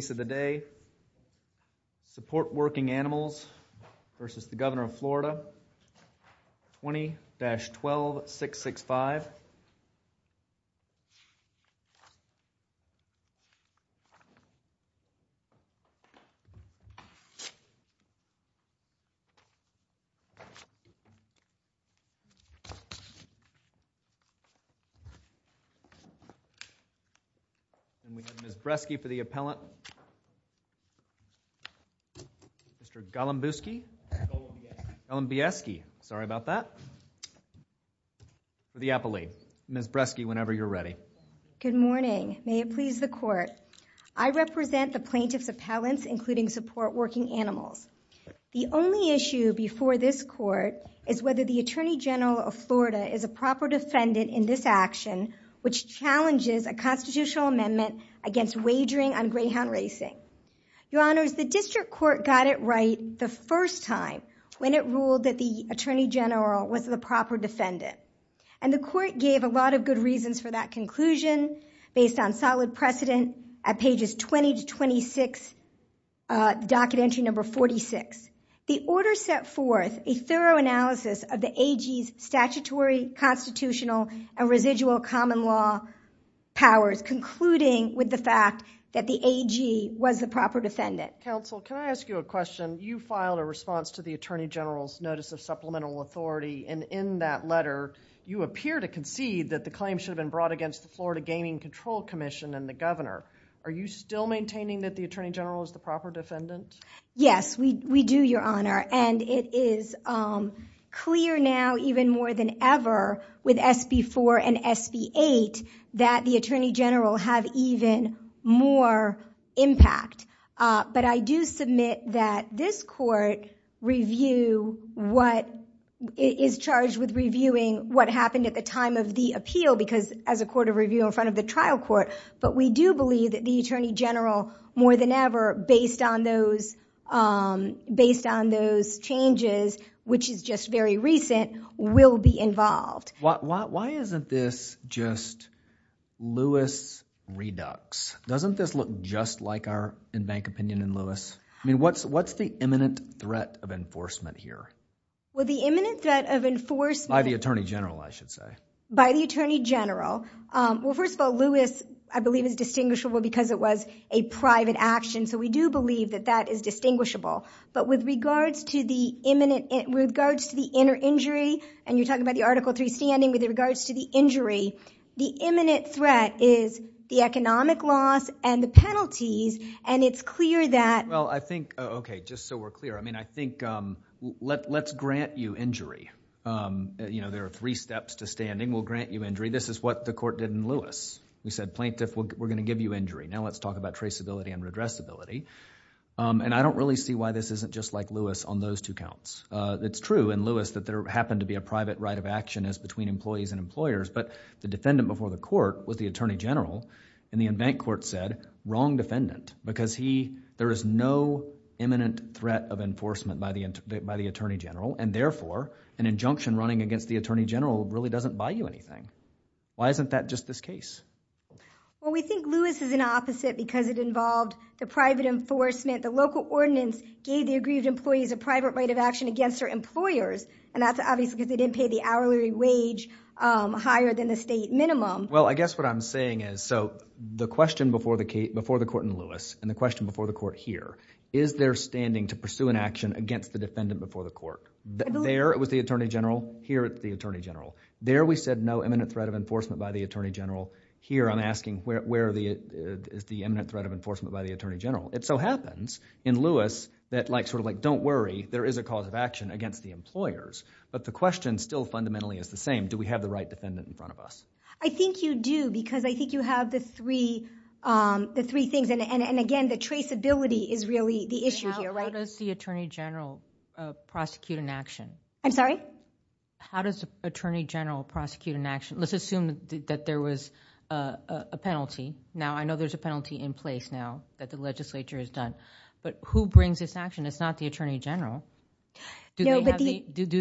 20-12665 Ms. Breschke for the Appellant, Ms. Breschke Good morning. May it please the Court. I represent the Plaintiff's Appellants, including Support Working Animals. The only issue before this Court is whether the Attorney General of Florida is a proper defendant in this action, which challenges a constitutional amendment against wagering on greyhound racing. Your Honors, the District Court got it right the first time when it ruled that the Attorney General was the proper defendant. And the Court gave a lot of good reasons for that conclusion, based on solid precedent at pages 20-26, docket entry number 46. The Order set forth a thorough analysis of the AG's statutory, constitutional, and residual common law powers, concluding with the fact that the AG was the proper defendant. Counsel, can I ask you a question? You filed a response to the Attorney General's Notice of Supplemental Authority, and in that letter, you appear to concede that the claim should have been brought against the Florida Gaming Control Commission and the Governor. Are you still maintaining that the Attorney General is the proper defendant? Yes, we do, Your Honor. And it is clear now, even more than ever, with SB4 and SB8, that the Attorney General had even more impact. But I do submit that this Court is charged with reviewing what happened at the time of the appeal, because as a Court of Review in front of the trial court, but we do believe that the Attorney General, more than ever, based on those changes, which is just very recent, will be involved. Why isn't this just Lewis reducts? Doesn't this look just like our in-bank opinion in Lewis? I mean, what's the imminent threat of enforcement here? Well, the imminent threat of enforcement... By the Attorney General, I should say. By the Attorney General. Well, first of all, Lewis, I believe, is distinguishable because it was a private action. So we do believe that that is distinguishable. But with regards to the inner injury, and you're talking about the Article III standing, with regards to the injury, the imminent threat is the economic loss and the penalties. And it's clear that... Well, I think, okay, just so we're clear, I mean, I think let's grant you injury. You know, there are three steps to standing. We'll grant you injury. This is what the Court did in Lewis. We said, plaintiff, we're going to give you injury. Now, let's talk about traceability and redressability. And I don't really see why this isn't just like Lewis on those two counts. It's true in Lewis that there happened to be a private right of action as between employees and employers, but the defendant before the court was the Attorney General, and the in-bank court said, wrong defendant, because there is no imminent threat of enforcement by the Attorney General, and therefore, an injunction running against the Well, we think Lewis is an opposite because it involved the private enforcement. The local ordinance gave the aggrieved employees a private right of action against their employers, and that's obviously because they didn't pay the hourly wage higher than the state minimum. Well, I guess what I'm saying is, so the question before the court in Lewis and the question before the court here, is there standing to pursue an action against the defendant before the court? There, it was the Attorney General. Here, it's the Attorney General. There, we said no imminent threat of enforcement by the Attorney General. Here, I'm asking, where is the imminent threat of enforcement by the Attorney General? It so happens in Lewis that like, sort of like, don't worry, there is a cause of action against the employers, but the question still fundamentally is the same. Do we have the right defendant in front of us? I think you do because I think you have the three things, and again, the traceability is really the issue here, right? How does the Attorney General prosecute an action? I'm sorry? How does the Attorney General prosecute an action? Let's assume that there was a penalty. Now I know there's a penalty in place now that the legislature has done, but who brings this action? It's not the Attorney General. Do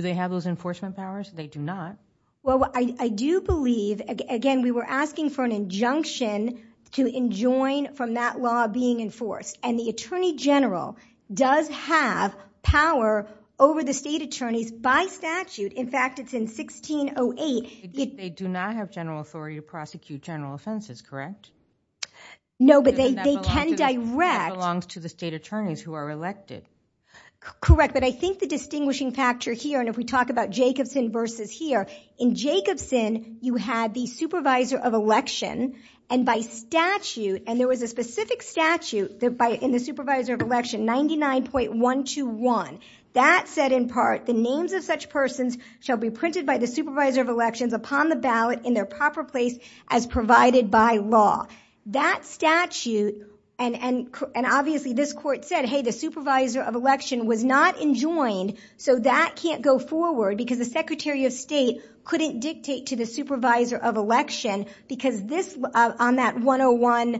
they have those enforcement powers? They do not. Well, I do believe, again, we were asking for an injunction to enjoin from that law being enforced, and the Attorney General does have power over the state attorneys by statute. In fact, it's in 1608. They do not have general authority to prosecute general offenses, correct? No, but they can direct. That belongs to the state attorneys who are elected. Correct, but I think the distinguishing factor here, and if we talk about Jacobson versus here, in Jacobson, you had the supervisor of election, and by statute, and there was a specific statute in the supervisor of election, 99.121. That said in part, the names of such persons shall be printed by the supervisor of elections upon the ballot in their proper place as provided by law. That statute, and obviously this court said, hey, the supervisor of election was not enjoined, so that can't go forward because the Secretary of State couldn't dictate to the supervisor of election because this, on that 101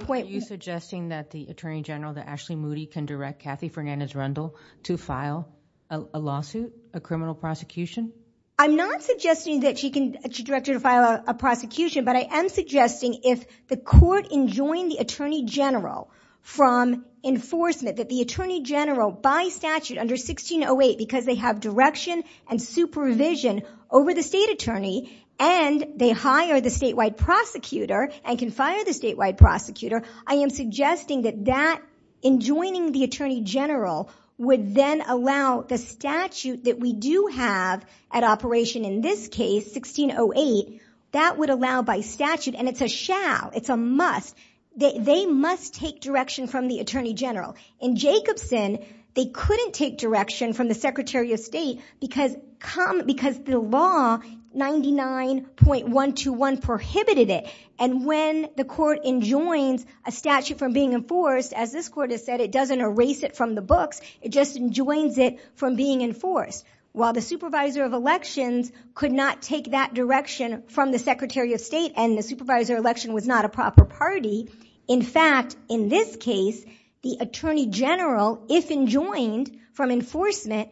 point. Are you suggesting that the Attorney General, that Ashley Moody, can direct Kathy Fernandez-Rundle to file a lawsuit, a criminal prosecution? I'm not suggesting that she can direct her to file a prosecution, but I am suggesting if the court enjoined the Attorney General from enforcement, that the Attorney General by statute under 1608, because they have direction and supervision over the state attorney, and they hire the statewide prosecutor and can fire the statewide prosecutor, I am suggesting that that, enjoining the Attorney General, would then allow the statute that we do have at operation in this case, 1608, that would allow by statute, and it's a shall, it's a must, they must take direction from the Attorney General. In Jacobson, they couldn't take direction from the Secretary of State because the law, 99.121, prohibited it, and when the court enjoins a statute from being enforced, as this court has said, it doesn't erase it from the books, it just enjoins it from being enforced. While the supervisor of elections could not take that direction from the Secretary of State, and the supervisor of election was not a proper party, in fact, in this case, the Attorney General, if enjoined from enforcement,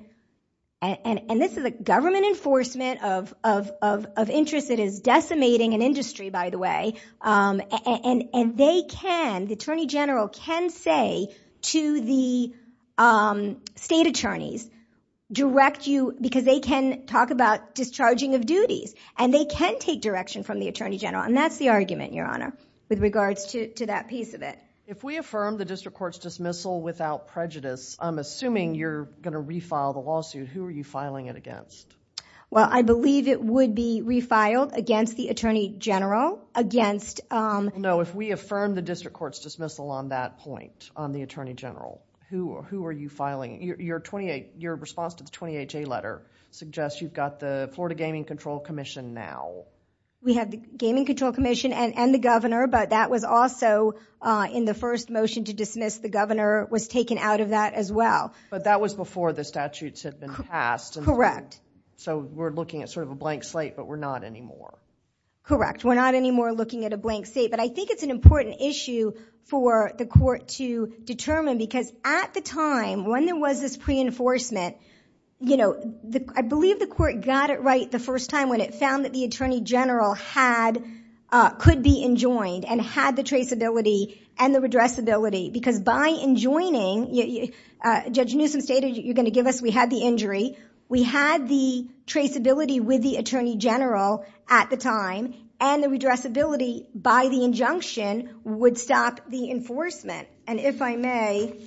and this is a government enforcement of a interest that is decimating an industry, by the way, and they can, the Attorney General can say to the state attorneys, direct you, because they can talk about discharging of duties, and they can take direction from the Attorney General, and that's the argument, Your Honor, with regards to that piece of it. If we affirm the district court's dismissal without prejudice, I'm assuming you're going to refile the lawsuit, who are you filing it against? Well, I believe it would be refiled against the Attorney General, against... No, if we affirm the district court's dismissal on that point, on the Attorney General, who are you filing? Your response to the 28-J letter suggests you've got the Florida Gaming Control Commission now. We have the Gaming Control Commission and the Governor, but that was also in the first motion to dismiss, the Governor was taken out of that as well. But that was before the statutes had been passed. Correct. So we're looking at sort of a blank slate, but we're not anymore. Correct. We're not anymore looking at a blank slate, but I think it's an important issue for the court to determine, because at the time, when there was this pre-enforcement, I believe the court got it right the first time when it found that the Attorney General could be enjoined and had the traceability and the redressability, because by enjoining... Judge We had the traceability with the Attorney General at the time, and the redressability by the injunction would stop the enforcement. And if I may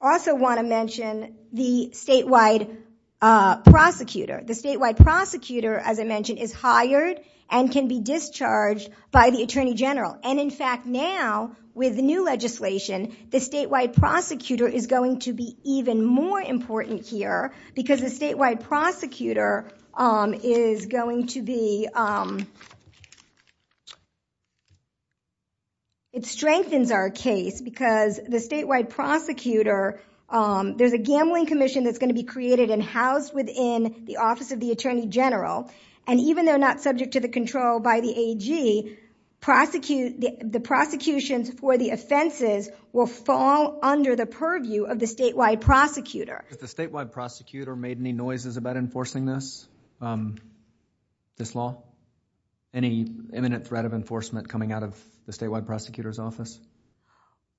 also want to mention the statewide prosecutor. The statewide prosecutor, as I mentioned, is hired and can be discharged by the Attorney General. And in fact, now with the new legislation, the statewide prosecutor is going to be even more important here, because the statewide prosecutor is going to be... It strengthens our case, because the statewide prosecutor... There's a gambling commission that's going to be created and housed within the office of the Attorney General. And even though not subject to the control by the AG, the prosecutions for the offenses will fall under the purview of the statewide prosecutor. Has the statewide prosecutor made any noises about enforcing this law? Any imminent threat of enforcement coming out of the statewide prosecutor's office?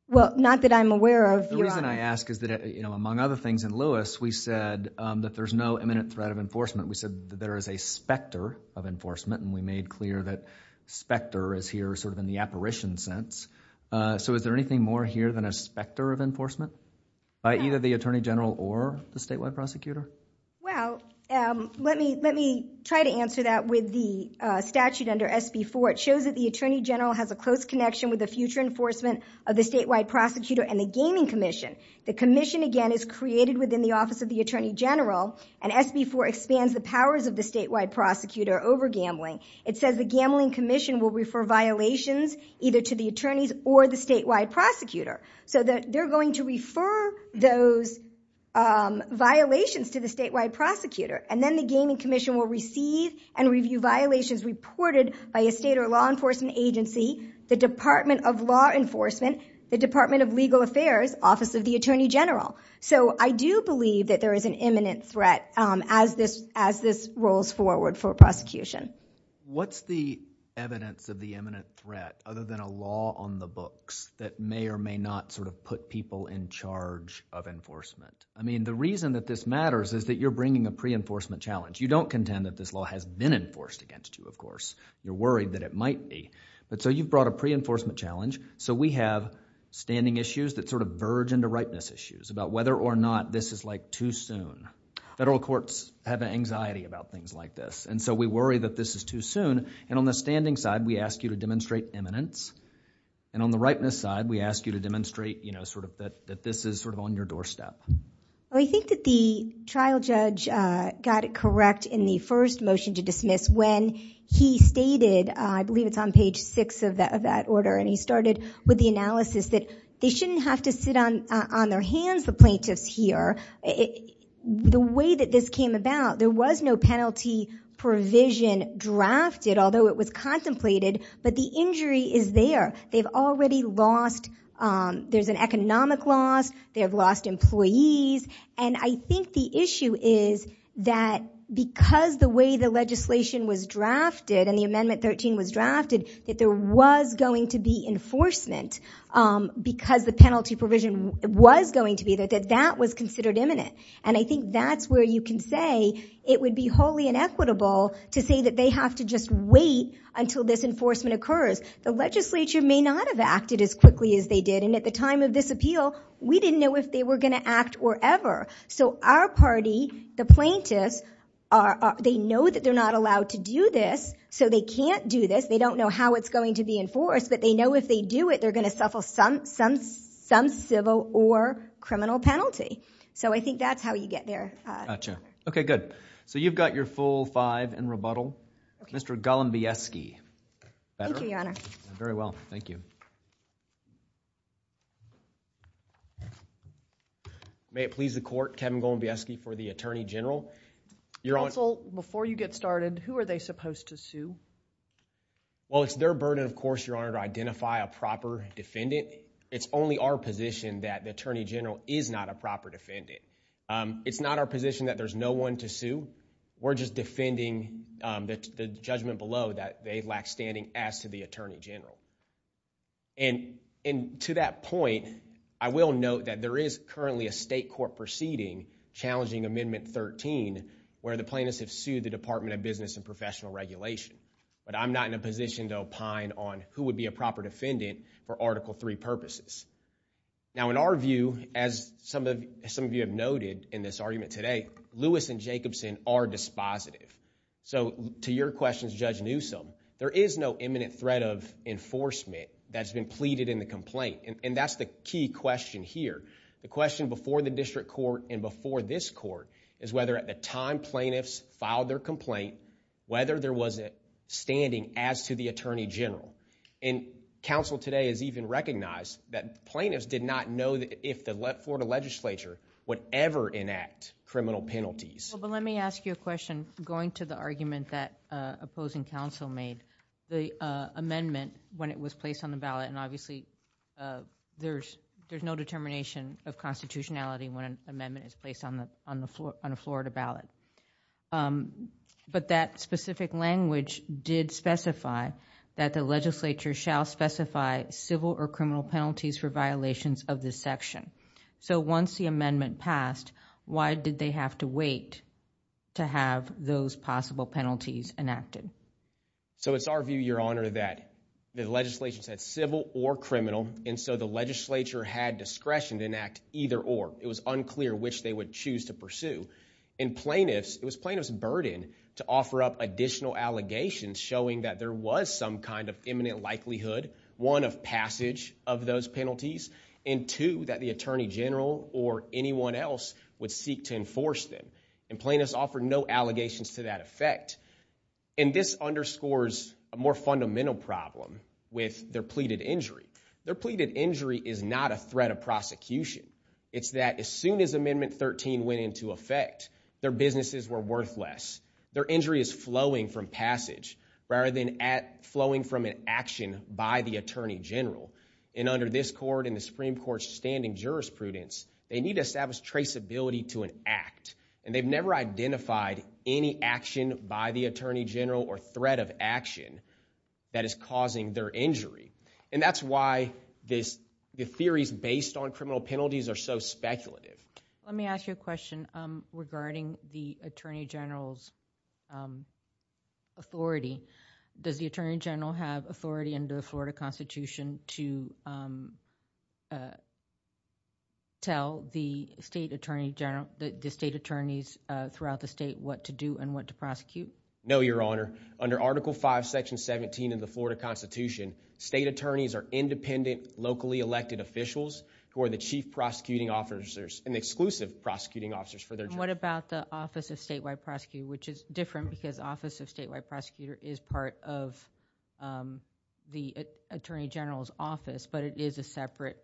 Well, not that I'm aware of. The reason I ask is that, among other things, in Lewis, we said that there's no imminent threat of enforcement. We said that there is a specter of enforcement, and we made clear that specter is here in the apparition sense. So is there anything more here than a specter of enforcement by either the Attorney General or the statewide prosecutor? Well, let me try to answer that with the statute under SB4. It shows that the Attorney General has a close connection with the future enforcement of the statewide prosecutor and the gaming commission. The commission, again, is created within the office of the Attorney General, and SB4 expands the powers of the statewide prosecutor over gambling. It says the gambling commission will refer violations either to the attorneys or the statewide prosecutor. So they're going to refer those violations to the statewide prosecutor, and then the gaming commission will receive and review violations reported by a state or law enforcement agency, the Department of Law Enforcement, the Department of Legal Affairs, Office of the Attorney General. So I do believe that there is an imminent threat as this rolls forward for prosecution. What's the evidence of the imminent threat other than a law on the books that may or may not sort of put people in charge of enforcement? I mean, the reason that this matters is that you're bringing a pre-enforcement challenge. You don't contend that this law has been enforced against you, of course. You're worried that it might be. But so you've brought a pre-enforcement challenge, so we have standing issues that sort of verge into ripeness issues about whether or not this is, like, too soon. Federal courts have an anxiety about things like this, and so we worry that this is too soon. And on the standing side, we ask you to demonstrate imminence. And on the ripeness side, we ask you to demonstrate, you know, sort of that this is sort of on your doorstep. Well, I think that the trial judge got it correct in the first motion to dismiss when he stated, I believe it's on page 6 of that order, and he started with the analysis that they shouldn't have to sit on their hands, the plaintiffs here. The way that this came about, there was no penalty provision drafted, although it was contemplated, but the injury is there. They've already lost, there's an economic loss, they have lost employees, and I think the issue is that because the way the legislation was drafted and the Amendment 13 was drafted, that there was going to be enforcement because the penalty provision was going to be there, that that was considered imminent. And I think that's where you can say it would be wholly inequitable to say that they have to just wait until this enforcement occurs. The legislature may not have acted as quickly as they did, and at the time of this appeal, we didn't know if they were going to act or ever. So our party, the plaintiffs, they know that they're not allowed to do this, so they can't do this. They don't know how it's going to be enforced, but they know if they do it, they're going to suffer some civil or criminal penalty. So I think that's how you get there. Gotcha. Okay, good. So you've got your full five in rebuttal. Mr. Golombieski. Thank you, Your Honor. Very well, thank you. May it please the Court, Kevin Golombieski for the Attorney General. Counsel, before you get started, who are they supposed to sue? Well, it's their burden, of course, Your Honor, to identify a proper defendant. It's only our position that the Attorney General is not a proper defendant. It's not our position that there's no one to sue. We're just defending the judgment below that they lack standing as to the Attorney General. And to that point, I will note that there is currently a state court proceeding challenging Amendment 13, where the plaintiffs have sued the Department of Business and Professional Regulation. But I'm not in a position to opine on who would be a proper defendant for Article III purposes. Now, in our view, as some of you have noted in this argument today, Lewis and Jacobson are dispositive. So to your questions, Judge Newsom, there is no imminent threat of enforcement that's been pleaded in the complaint, and that's the key question here. The question before the district court and before this court is whether at the time plaintiffs filed their complaint, whether there was a standing as to the Attorney General. And counsel today has even recognized that plaintiffs did not know if the Florida legislature would ever enact criminal penalties. Well, but let me ask you a question, going to the argument that opposing counsel made. The amendment, when it was placed on the ballot, and obviously there's no determination of constitutionality when an amendment is placed on a Florida ballot. But that specific language did specify that the legislature shall specify civil or criminal penalties for violations of this section. So once the amendment passed, why did they have to wait to have those possible penalties enacted? So it's our view, Your Honor, that the legislation said civil or criminal, and so the legislature had discretion to enact either or. It was unclear which they would choose to pursue. And plaintiffs, it was plaintiffs' burden to offer up additional allegations showing that there was some kind of imminent likelihood, one, of passage of those penalties, and two, that the Attorney General or anyone else would seek to enforce them. And plaintiffs offered no allegations to that effect. And this underscores a more fundamental problem with their pleaded injury. Their pleaded injury is not a threat of prosecution. It's that as soon as Amendment 13 went into effect, their businesses were worthless. Their injury is flowing from passage rather than flowing from an action by the Attorney General. And under this Court and the Supreme Court's standing jurisprudence, they need to establish traceability to an act. And they've never identified any action by the Attorney General or threat of action that is causing their injury. And that's why the theories based on criminal penalties are so speculative. Let me ask you a question regarding the Attorney General's authority. Does the Attorney General have authority under the Florida Constitution to tell the State Attorneys throughout the State what to do and what to prosecute? No, Your Honor. Under Article 5, Section 17 of the Florida Constitution, State Attorneys are independent, locally elected officials who are the chief prosecuting officers and the exclusive prosecuting officers for their job. And what about the Office of Statewide Prosecutor, which is different because the Office of Statewide Prosecutor is part of the Attorney General's office, but it is a separate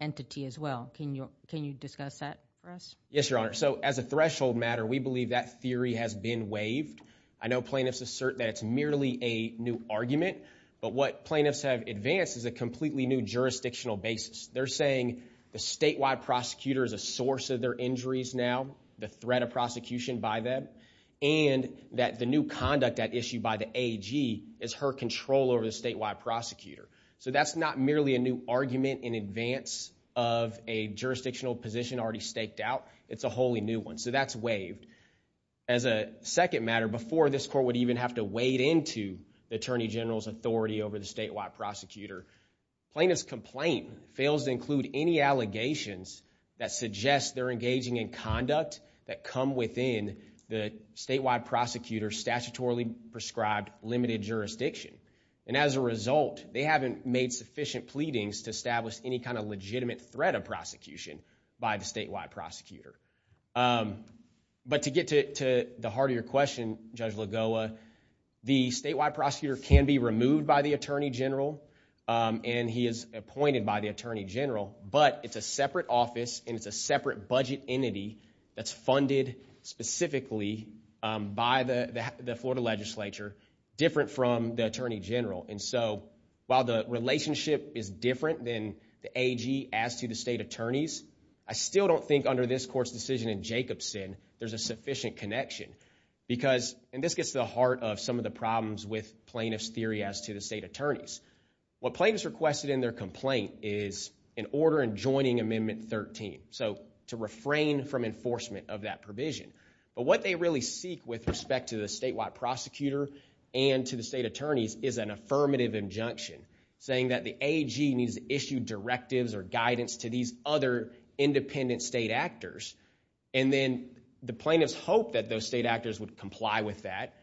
entity as well. Can you discuss that for us? Yes, Your Honor. So, as a threshold matter, we believe that theory has been waived. I know plaintiffs assert that it's merely a new argument, but what plaintiffs have advanced is a completely new jurisdictional basis. They're saying the statewide prosecutor is a source of their injuries now, the threat of prosecution by them, and that the new conduct at issue by the AG is her control over the statewide prosecutor. So that's not merely a new argument in advance of a jurisdictional position already staked out. It's a wholly new one. So that's waived. As a second matter, before this court would even have to wade into the Attorney General's authority over the statewide prosecutor, plaintiff's complaint fails to include any allegations that suggest they're engaging in conduct that come within the statewide prosecutor's statutorily prescribed limited jurisdiction. And as a result, they haven't made sufficient pleadings to establish any kind of legitimate threat of prosecution by the statewide prosecutor. But to get to the heart of your question, Judge Lagoa, the statewide prosecutor can be removed by the Attorney General, and he is appointed by the Attorney General, but it's a separate office, and it's a separate budget entity that's funded specifically by the Florida legislature, different from the Attorney General. And so while the relationship is different than the AG as to the state attorneys, I still don't think under this court's decision in Jacobson, there's a sufficient connection. Because and this gets to the heart of some of the problems with plaintiff's theory as to the state attorneys. What plaintiffs requested in their complaint is an order in joining Amendment 13. So to refrain from enforcement of that provision. But what they really seek with respect to the statewide prosecutor and to the state attorneys is an affirmative injunction saying that the AG needs to issue directives or guidance to these other independent state actors. And then the plaintiffs hope that those state actors would comply with that.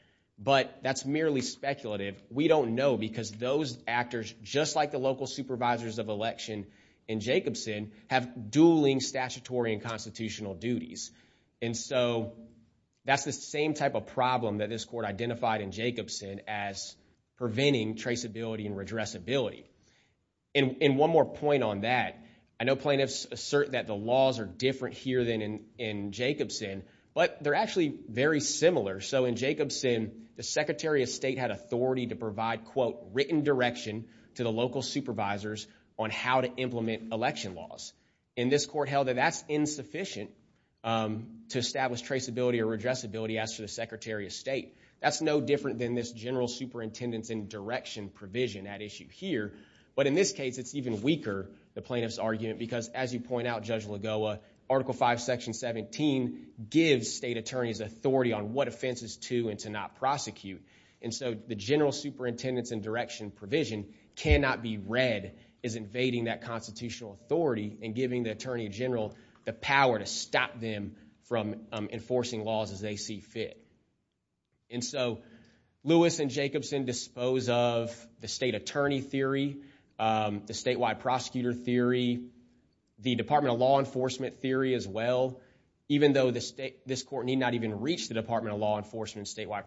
But that's merely speculative. We don't know because those actors, just like the local supervisors of election in Jacobson, have dueling statutory and constitutional duties. And so that's the same type of problem that this court identified in Jacobson as preventing traceability and redressability. And one more point on that, I know plaintiffs assert that the laws are different here than in Jacobson, but they're actually very similar. So in Jacobson, the Secretary of State had authority to provide, quote, written direction to the local supervisors on how to implement election laws. And this court held that that's insufficient to establish traceability or redressability as to the Secretary of State. That's no different than this general superintendence and direction provision at issue here. But in this case, it's even weaker, the plaintiff's argument, because as you point out, Judge Lagoa, Article 5, Section 17 gives state attorneys authority on what offenses to and to not prosecute. And so the general superintendence and direction provision cannot be read as invading that and giving the Attorney General the power to stop them from enforcing laws as they see fit. And so Lewis and Jacobson dispose of the state attorney theory, the statewide prosecutor theory, the Department of Law Enforcement theory as well, even though this court need not even reach the Department of Law Enforcement statewide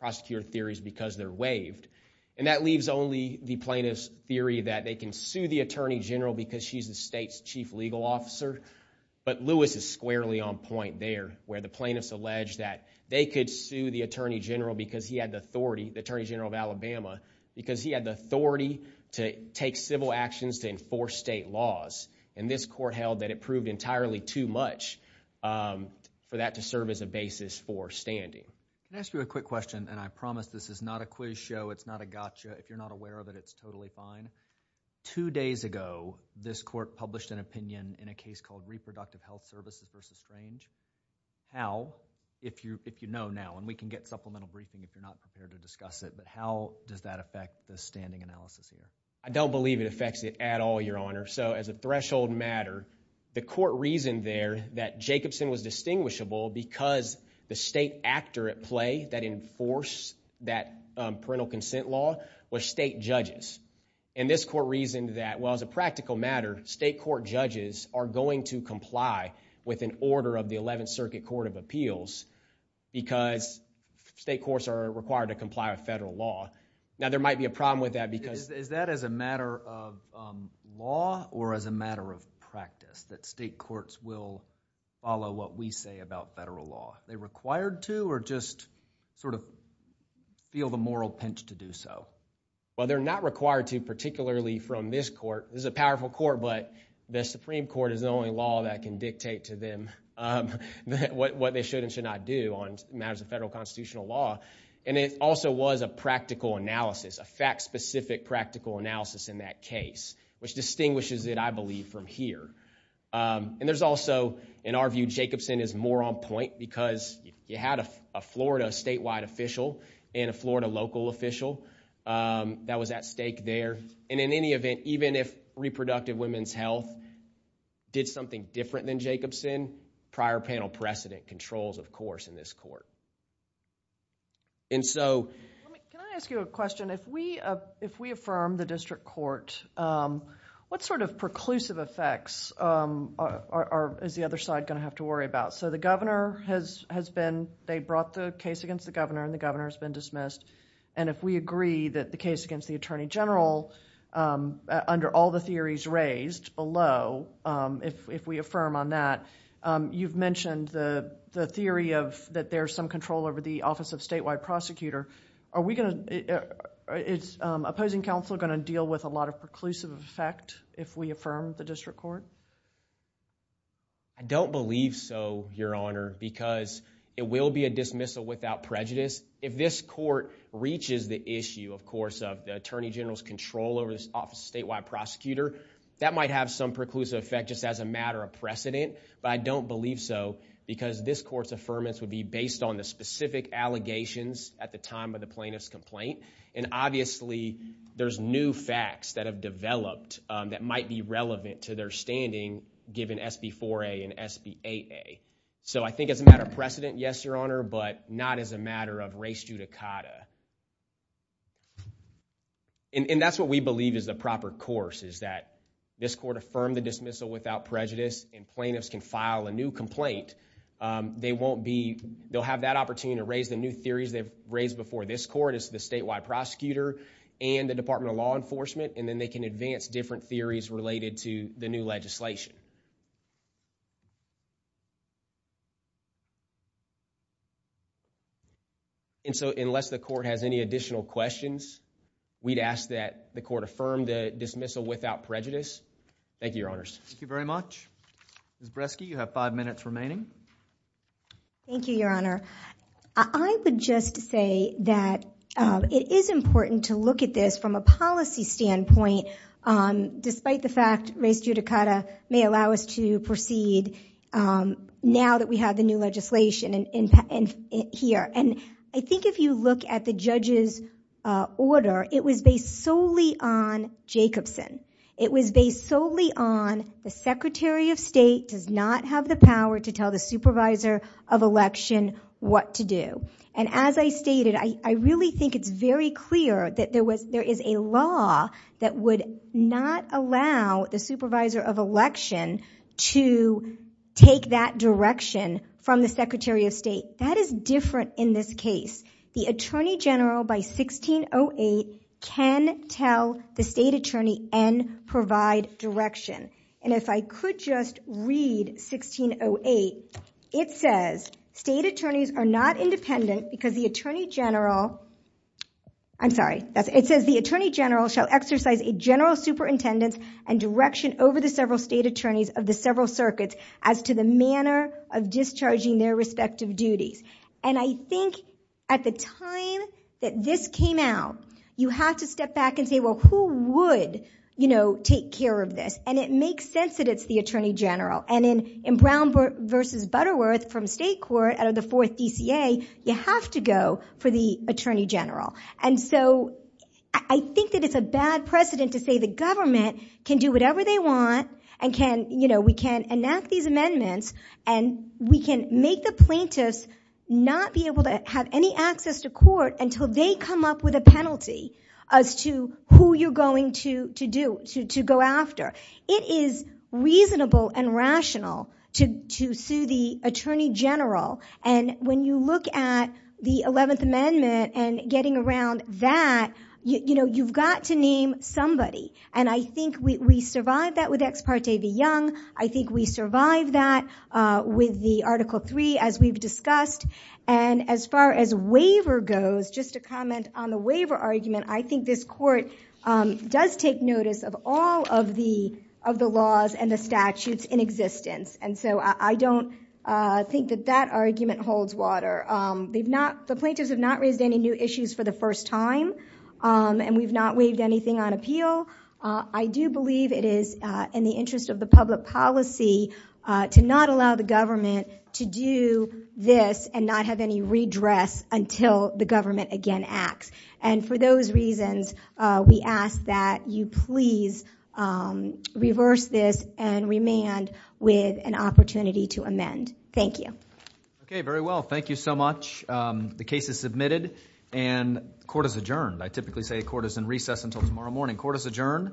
prosecutor theories because they're waived. And that leaves only the plaintiff's theory that they can sue the Attorney General because she's the state's chief legal officer. But Lewis is squarely on point there, where the plaintiffs allege that they could sue the Attorney General because he had the authority, the Attorney General of Alabama, because he had the authority to take civil actions to enforce state laws. And this court held that it proved entirely too much for that to serve as a basis for standing. Can I ask you a quick question? And I promise this is not a quiz show, it's not a gotcha. If you're not aware of it, it's totally fine. Two days ago, this court published an opinion in a case called Reproductive Health Services v. Strange. How, if you know now, and we can get supplemental briefing if you're not prepared to discuss it, but how does that affect the standing analysis here? I don't believe it affects it at all, Your Honor. So as a threshold matter, the court reasoned there that Jacobson was distinguishable because the state actor at play that enforced that parental consent law were state judges. And this court reasoned that, well, as a practical matter, state court judges are going to comply with an order of the Eleventh Circuit Court of Appeals because state courts are required to comply with federal law. Now, there might be a problem with that because... Is that as a matter of law or as a matter of practice, that state courts will follow what we say about federal law? They're required to or just sort of feel the moral pinch to do so? Well, they're not required to, particularly from this court. This is a powerful court, but the Supreme Court is the only law that can dictate to them what they should and should not do on matters of federal constitutional law. And it also was a practical analysis, a fact-specific practical analysis in that case, which distinguishes it, I believe, from here. And there's also, in our view, Jacobson is more on point because you had a Florida statewide official and a Florida local official that was at stake there. And in any event, even if Reproductive Women's Health did something different than Jacobson, prior panel precedent controls, of course, in this court. And so... Can I ask you a question? If we affirm the district court, what sort of preclusive effects is the other side going to have to worry about? So the governor has been... they brought the case against the governor and the governor has been dismissed. And if we agree that the case against the attorney general, under all the theories raised below, if we affirm on that, you've mentioned the theory of that there's some control over the Office of Statewide Prosecutor. Are we going to... is opposing counsel going to deal with a lot of preclusive effect if we affirm the district court? I don't believe so, Your Honor, because it will be a dismissal without prejudice. If this court reaches the issue, of course, of the attorney general's control over the Office of Statewide Prosecutor, that might have some preclusive effect just as a matter of precedent. But I don't believe so because this court's affirmance would be based on the specific allegations at the time of the plaintiff's complaint. And obviously, there's new facts that have developed that might be relevant to their understanding, given SB 4A and SB 8A. So I think as a matter of precedent, yes, Your Honor, but not as a matter of res judicata. And that's what we believe is the proper course, is that this court affirmed the dismissal without prejudice and plaintiffs can file a new complaint. They won't be... they'll have that opportunity to raise the new theories they've raised before this court as the statewide prosecutor and the Department of Law Enforcement, and then they can advance different theories related to the new legislation. And so unless the court has any additional questions, we'd ask that the court affirm the dismissal without prejudice. Thank you, Your Honors. Thank you very much. Ms. Breske, you have five minutes remaining. Thank you, Your Honor. I would just say that it is important to look at this from a policy standpoint, despite the fact res judicata may allow us to proceed now that we have the new legislation here. And I think if you look at the judge's order, it was based solely on Jacobson. It was based solely on the Secretary of State does not have the power to tell the supervisor of election what to do. And as I stated, I really think it's very clear that there is a law that would not allow the supervisor of election to take that direction from the Secretary of State. That is different in this case. The Attorney General by 1608 can tell the state attorney and provide direction. And if I could just read 1608, it says state attorneys are not independent because the Attorney General, I'm sorry, it says the Attorney General shall exercise a general superintendence and direction over the several state attorneys of the several circuits as to the manner of discharging their respective duties. And I think at the time that this came out, you have to step back and say, well, who would, you know, take care of this? And it makes sense that it's the Attorney General. And in Brown versus Butterworth from state court out of the fourth DCA, you have to go for the Attorney General. And so I think that it's a bad precedent to say the government can do whatever they want and can, you know, we can enact these amendments and we can make the plaintiffs not be able to have any access to court until they come up with a penalty as to who you're going to go after. It is reasonable and rational to sue the Attorney General. And when you look at the 11th Amendment and getting around that, you know, you've got to name somebody. And I think we survived that with Ex parte de Young. I think we survived that with the Article III, as we've discussed. And as far as waiver goes, just to comment on the waiver argument, I think this court does take notice of all of the laws and the statutes in existence. And so I don't think that that argument holds water. The plaintiffs have not raised any new issues for the first time. And we've not waived anything on appeal. I do believe it is in the interest of the public policy to not allow the government to do this and not have any redress until the government again acts. And for those reasons, we ask that you please reverse this and remand with an opportunity to amend. Thank you. Okay. Very well. Thank you so much. The case is submitted and court is adjourned. I typically say court is in recess until tomorrow morning. Court is adjourned.